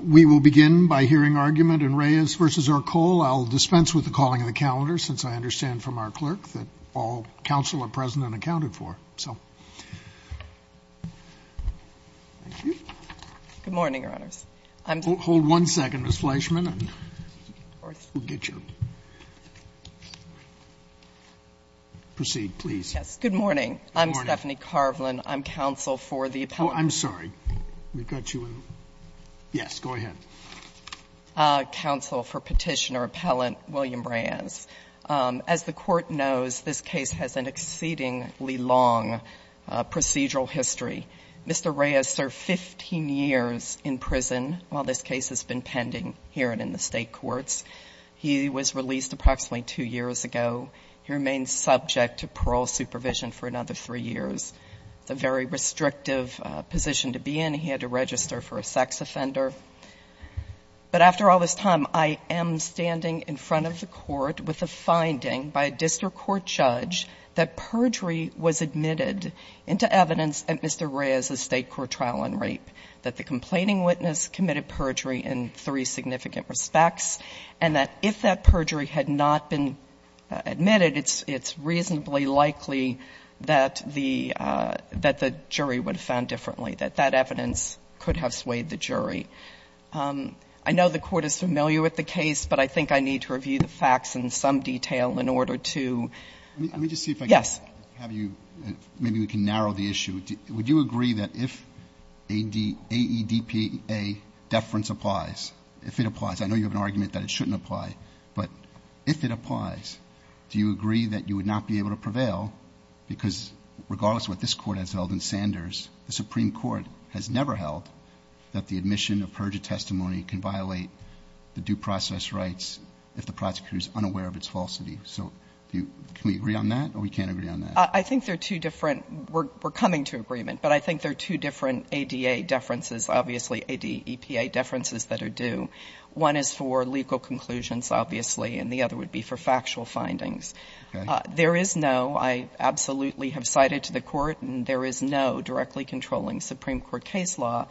We will begin by hearing argument in Reyes v. Ercole. I'll dispense with the calling of the calendar, since I understand from our clerk that all counsel are present and accounted for. Good morning, Your Honors. Hold one second, Ms. Fleischman, and we'll get you. Proceed, please. Good morning. I'm Stephanie Carvelan. I'm counsel for the appellant. Oh, I'm sorry. We've got you in. Yes, go ahead. Counsel for petitioner appellant William Reyes. As the court knows, this case has an exceedingly long procedural history. Mr. Reyes served 15 years in prison while this case has been pending here and in the state courts. He was released approximately two years ago. He remains subject to parole supervision for another three years. It's a very restrictive position to be in. He had to register for a sex offender. But after all this time, I am standing in front of the Court with a finding by a district court judge that perjury was admitted into evidence at Mr. Reyes' State Court trial on rape, that the complaining witness committed perjury in three significant respects, and that if that perjury had not been admitted, it's reasonably likely that the jury would have found differently, that that evidence could have swayed the jury. I know the Court is familiar with the case, but I think I need to review the facts in some detail in order to yes. Let me just see if I can have you, maybe we can narrow the issue. Would you agree that if AEDPA deference applies, if it applies, I know you have an argument that it shouldn't apply, but if it applies, do you agree that you would not be able to prevail? Because regardless of what this Court has held in Sanders, the Supreme Court has never held that the admission of perjury testimony can violate the due process rights if the prosecutor is unaware of its falsity. So can we agree on that or we can't agree on that? I think they're two different we're coming to agreement, but I think they're two different ADA deferences, obviously, AEDPA deferences that are due. One is for legal conclusions, obviously, and the other would be for factual findings. Okay. There is no, I absolutely have cited to the Court, and there is no directly controlling Supreme Court case law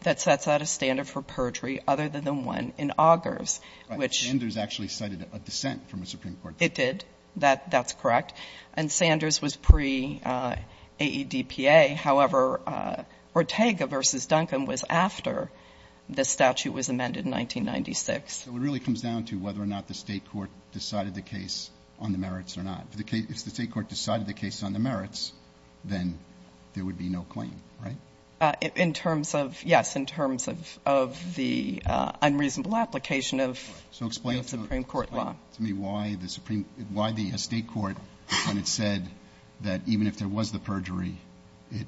that sets out a standard for perjury other than one in Augers, which — Right. Sanders actually cited a dissent from the Supreme Court. It did. That's correct. And Sanders was pre-AEDPA. However, Ortega v. Duncan was after the statute was amended in 1996. So it really comes down to whether or not the State court decided the case on the merits or not. If the State court decided the case on the merits, then there would be no claim, right? In terms of, yes, in terms of the unreasonable application of the Supreme Court law. Tell me why the Supreme — why the State court, when it said that even if there was the perjury, it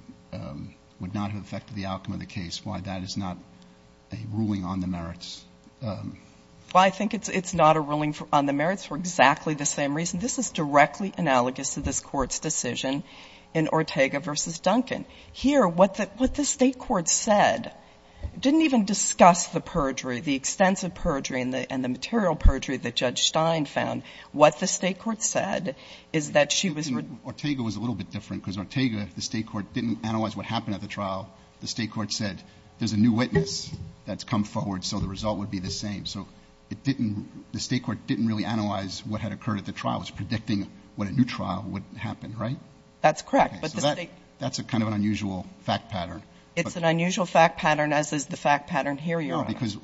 would not have affected the outcome of the case, why that is not a ruling on the merits? Well, I think it's not a ruling on the merits for exactly the same reason. This is directly analogous to this Court's decision in Ortega v. Duncan. Here, what the State court said didn't even discuss the perjury, the extensive perjury and the material perjury that Judge Stein found. What the State court said is that she was — Ortega was a little bit different, because Ortega, the State court didn't analyze what happened at the trial. The State court said there's a new witness that's come forward, so the result would be the same. So it didn't — the State court didn't really analyze what had occurred at the trial. It was predicting what a new trial would happen, right? That's correct. Okay. So that's a kind of an unusual fact pattern. It's an unusual fact pattern, as is the fact pattern here, Your Honor. No, because,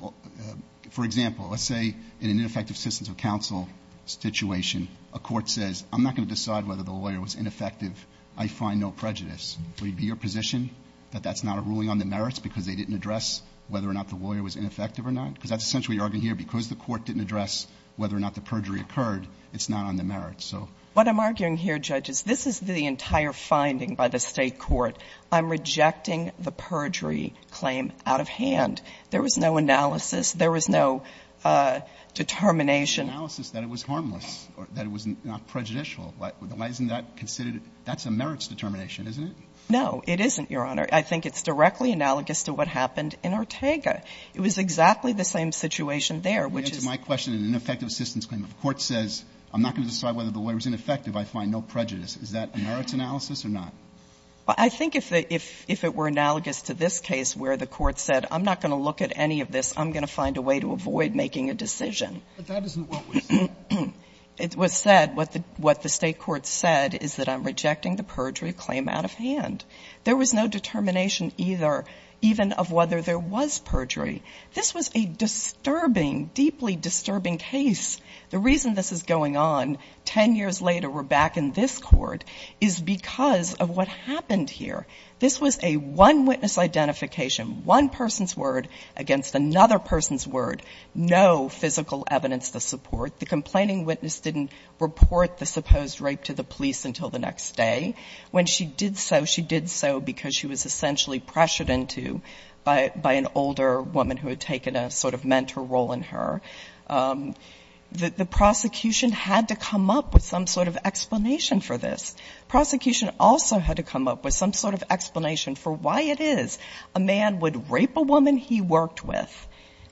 for example, let's say in an ineffective assistance of counsel situation, a court says, I'm not going to decide whether the lawyer was ineffective, I find no prejudice. Would it be your position that that's not a ruling on the merits because they didn't address whether or not the lawyer was ineffective or not? Because that's essentially what you're arguing here. Because the court didn't address whether or not the perjury occurred, it's not on the merits, so. What I'm arguing here, Judge, is this is the entire finding by the State court. I'm rejecting the perjury claim out of hand. There was no analysis. There was no determination. There was no analysis that it was harmless or that it was not prejudicial. Why isn't that considered — that's a merits determination, isn't it? No, it isn't, Your Honor. I think it's directly analogous to what happened in Ortega. It was exactly the same situation there, which is — You answered my question in an ineffective assistance claim. If a court says, I'm not going to decide whether the lawyer was ineffective, I find no prejudice, is that a merits analysis or not? Well, I think if it were analogous to this case where the court said, I'm not going to look at any of this. I'm going to find a way to avoid making a decision. But that isn't what was said. It was said. What the State court said is that I'm rejecting the perjury claim out of hand. There was no determination either, even of whether there was perjury. This was a disturbing, deeply disturbing case. The reason this is going on 10 years later, we're back in this Court, is because of what happened here. This was a one-witness identification, one person's word against another person's word, no physical evidence to support. The complaining witness didn't report the supposed rape to the police until the next day. When she did so, she did so because she was essentially pressured into by an older woman who had taken a sort of mentor role in her, that the prosecution had to come up with some sort of explanation for this. Prosecution also had to come up with some sort of explanation for why it is a man would rape a woman he worked with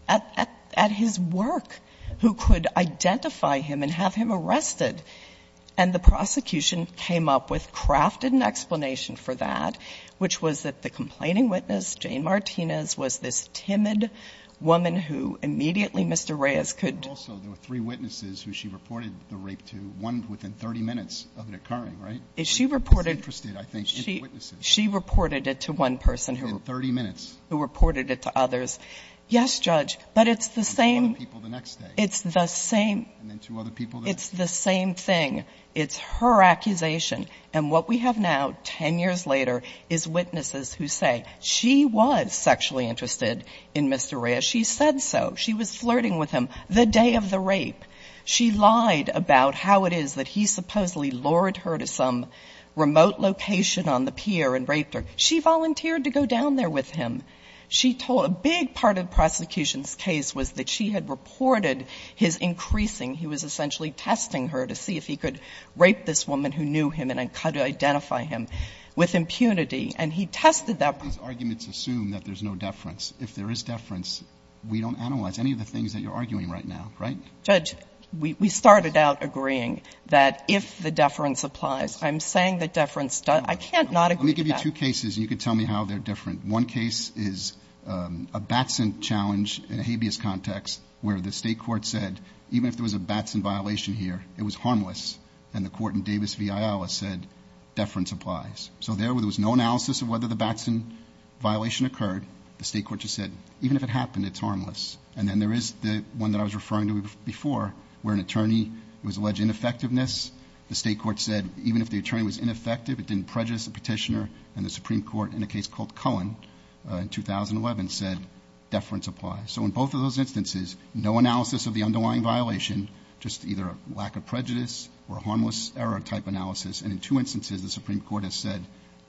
at his work, who could identify him and have him arrested. And the prosecution came up with, crafted an explanation for that, which was that the complaining witness, Jane Martinez, was this timid woman who immediately Mr. Reyes could do. And also there were three witnesses who she reported the rape to, one within 30 minutes of it occurring, right? She reported it. She was interested, I think, in the witnesses. She reported it to one person who reported it to others. Within 30 minutes. Yes, Judge. But it's the same. And two other people the next day. It's the same. And then two other people the next day. It's the same thing. It's her accusation. And what we have now, 10 years later, is witnesses who say she was sexually interested in Mr. Reyes. She said so. She was flirting with him the day of the rape. She lied about how it is that he supposedly lured her to some remote location on the pier and raped her. She volunteered to go down there with him. She told a big part of the prosecution's case was that she had reported his increasing he was essentially testing her to see if he could rape this woman who knew him and how to identify him with impunity. And he tested that. These arguments assume that there's no deference. If there is deference, we don't analyze any of the things that you're arguing right now, right? Judge, we started out agreeing that if the deference applies. I'm saying the deference does. I can't not agree to that. Let me give you two cases, and you can tell me how they're different. One case is a Batson challenge in a habeas context where the State court said, even if there was a Batson violation here, it was harmless. And the court in Davis v. Iowa said, deference applies. So there was no analysis of whether the Batson violation occurred. The State court just said, even if it happened, it's harmless. And then there is the one that I was referring to before, where an attorney was alleged ineffectiveness. The State court said, even if the attorney was ineffective, it didn't prejudice the petitioner. And the Supreme Court in a case called Cullen in 2011 said, deference applies. So in both of those instances, no analysis of the underlying violation, just either a lack of prejudice or a harmless error type analysis. And in two instances, the Supreme Court has said,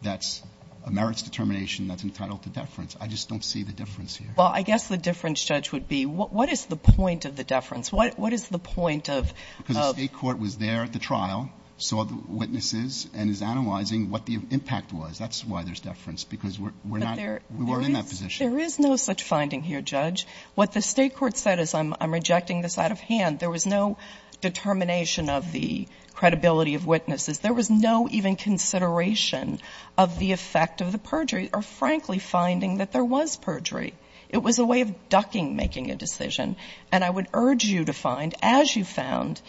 that's a merits determination that's entitled to deference. I just don't see the difference here. Well, I guess the difference, Judge, would be, what is the point of the deference? What is the point of the – Because the State court was there at the trial, saw the witnesses, and is analyzing what the impact was. That's why there's deference, because we're not – we weren't in that position. There is no such finding here, Judge. What the State court said is I'm rejecting this out of hand. There was no determination of the credibility of witnesses. There was no even consideration of the effect of the perjury, or frankly, finding that there was perjury. It was a way of ducking making a decision. And I would urge you to find, as you found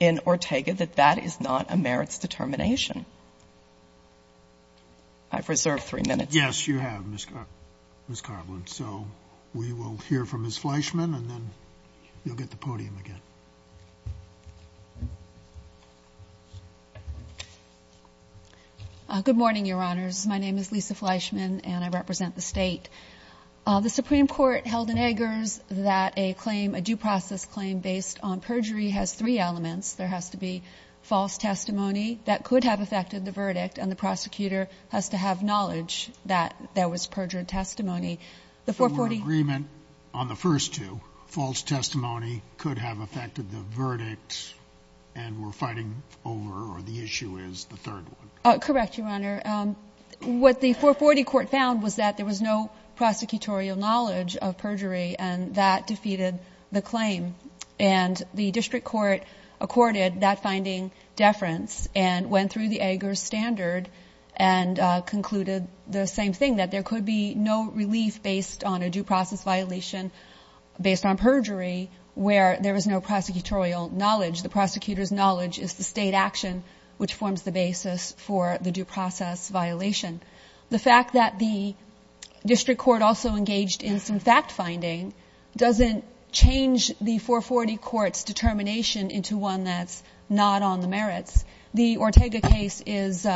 in Ortega, that that is not a merits determination. I've reserved three minutes. Yes, you have, Ms. Carlin. So we will hear from Ms. Fleischman, and then you'll get the podium again. Good morning, Your Honors. My name is Lisa Fleischman, and I represent the State. The Supreme Court held in Eggers that a claim, a due process claim based on perjury has three elements. There has to be false testimony that could have affected the verdict, and the prosecutor has to have knowledge that there was perjured testimony. The 440 ---- So an agreement on the first two, false testimony could have affected the verdict and we're fighting over, or the issue is the third one. Correct, Your Honor. What the 440 court found was that there was no prosecutorial knowledge of perjury, and that defeated the claim. And the district court accorded that finding deference and went through the Eggers standard and concluded the same thing, that there could be no relief based on a due process violation based on perjury where there was no prosecutorial knowledge. The prosecutor's knowledge is the State action, which forms the basis for the due process violation. The fact that the district court also engaged in some fact finding doesn't change the 440 court's determination into one that's not on the merits. The Ortega case is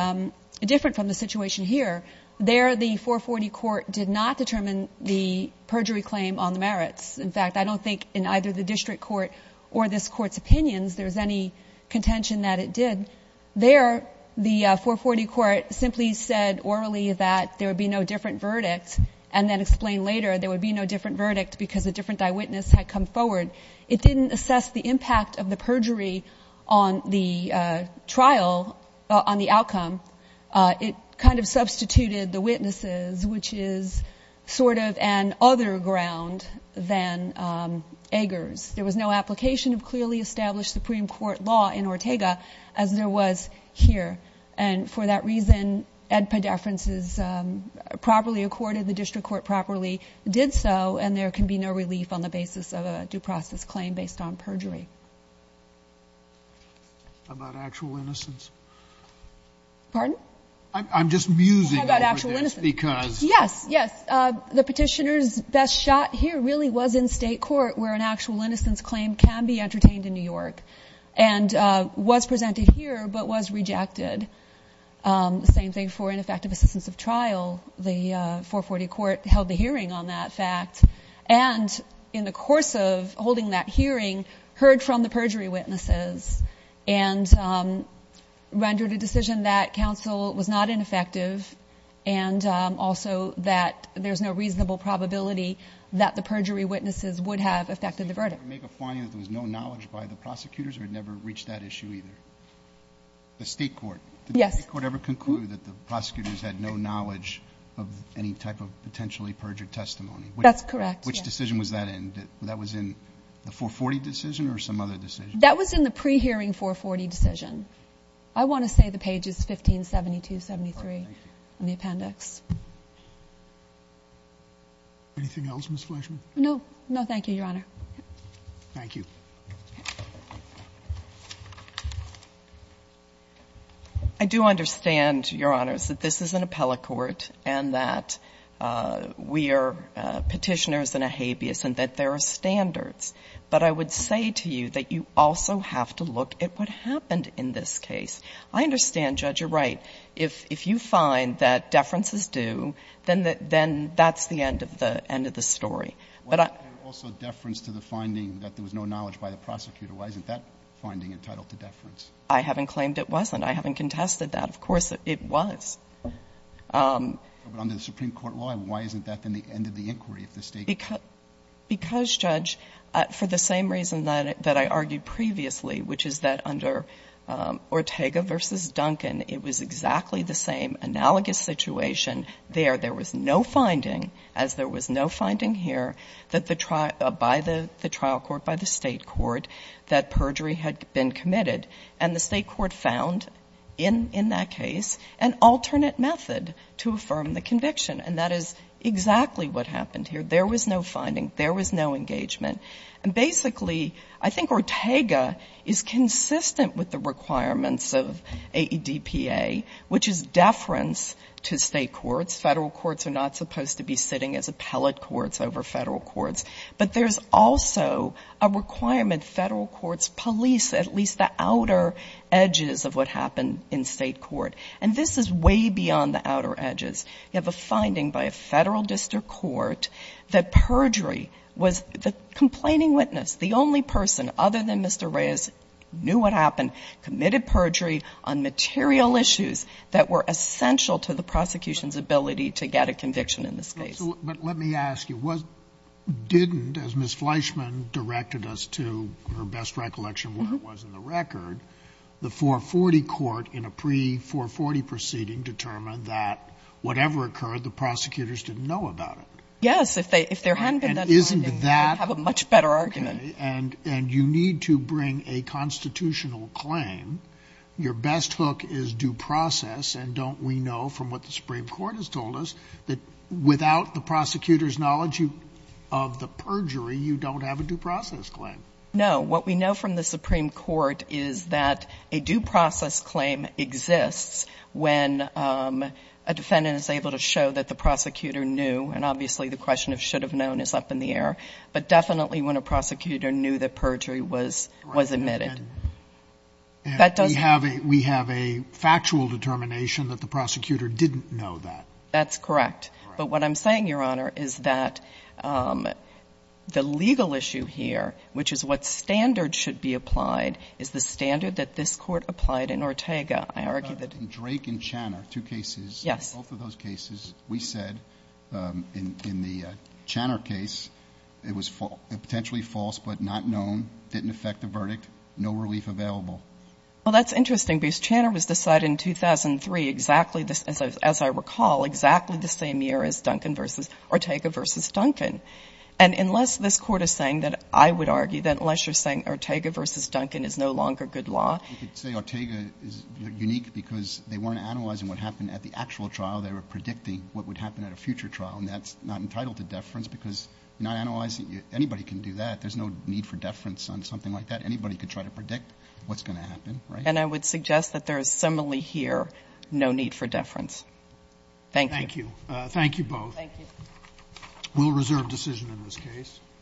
different from the situation here. There the 440 court did not determine the perjury claim on the merits. In fact, I don't think in either the district court or this court's opinions there's any contention that it did. There the 440 court simply said orally that there would be no different verdict and then explained later there would be no different verdict because a different eyewitness had come forward. It didn't assess the impact of the perjury on the trial, on the outcome. It kind of substituted the witnesses, which is sort of an other ground than Eggers. There was no application of clearly established Supreme Court law in Ortega as there was here. And for that reason, Ed Pederfens is properly accorded, the district court properly did so, and there can be no relief on the basis of a due process claim based on perjury. How about actual innocence? Pardon? I'm just musing over this because. How about actual innocence? Yes, yes. The petitioner's best shot here really was in state court where an actual innocence claim can be entertained in New York and was presented here but was rejected. The same thing for ineffective assistance of trial. The 440 court held the hearing on that fact, and in the course of holding that hearing heard from the perjury witnesses and rendered a decision that counsel was not ineffective and also that there's no reasonable probability that the perjury witnesses would have affected the verdict. Did the state court make a finding that there was no knowledge by the prosecutors or it never reached that issue either? The state court? Yes. Did the state court ever conclude that the prosecutors had no knowledge of any type of potentially perjured testimony? That's correct, yes. Which decision was that in? That was in the 440 decision or some other decision? That was in the pre-hearing 440 decision. I want to say the page is 1572-73 in the appendix. Anything else, Ms. Fleischman? No, thank you, Your Honor. Thank you. I do understand, Your Honor, that this is an appellate court and that we are Petitioners and a habeas and that there are standards. But I would say to you that you also have to look at what happened in this case. I understand, Judge, you're right. If you find that deference is due, then that's the end of the story. Why wasn't there also deference to the finding that there was no knowledge by the prosecutor? Why isn't that finding entitled to deference? I haven't claimed it wasn't. I haven't contested that. Of course, it was. But under the Supreme Court law, why isn't that then the end of the inquiry if the state court? Because, Judge, for the same reason that I argued previously, which is that under Ortega v. Duncan, it was exactly the same analogous situation there. There was no finding, as there was no finding here, by the trial court, by the state court, that perjury had been committed. And the state court found in that case an alternate method to affirm the conviction. And that is exactly what happened here. There was no finding. There was no engagement. And basically, I think Ortega is consistent with the requirements of AEDPA, which is deference to state courts. Federal courts are not supposed to be sitting as appellate courts over federal courts. But there's also a requirement federal courts police at least the outer edges of what happened in state court. And this is way beyond the outer edges. You have a finding by a federal district court that perjury was the complaining witness, the only person other than Mr. Reyes knew what happened, committed perjury on material issues that were essential to the prosecution's ability to get a conviction in this case. Scalia. But let me ask you. Didn't, as Ms. Fleischman directed us to her best recollection of what it was in the record, the 440 court in a pre-440 proceeding determined that whatever occurred, the prosecutors didn't know about it? Yes. If there hadn't been that finding, they would have a much better argument. Okay. And you need to bring a constitutional claim. Your best hook is due process. And don't we know from what the Supreme Court has told us that without the prosecutor's knowledge of the perjury, you don't have a due process claim? No. What we know from the Supreme Court is that a due process claim exists when a defendant is able to show that the prosecutor knew. And obviously the question of should have known is up in the air. But definitely when a prosecutor knew that perjury was admitted. Correct. And we have a factual determination that the prosecutor didn't know that. That's correct. Correct. But what I'm saying, Your Honor, is that the legal issue here, which is what standard should be applied, is the standard that this Court applied in Ortega. I argue that the ---- What about in Drake and Channer, two cases? Yes. Both of those cases, we said in the Channer case, it was potentially false but not known, didn't affect the verdict, no relief available. Well, that's interesting because Channer was decided in 2003, exactly as I recall, exactly the same year as Ortega v. Duncan. And unless this Court is saying that I would argue that unless you're saying Ortega v. Duncan is no longer good law ---- I could say Ortega is unique because they weren't analyzing what happened at the actual trial. They were predicting what would happen at a future trial, and that's not entitled to deference because you're not analyzing. Anybody can do that. There's no need for deference on something like that. Anybody could try to predict what's going to happen, right? And I would suggest that there is similarly here no need for deference. Thank you. Thank you. Thank you both. Thank you. We'll reserve decision in this case.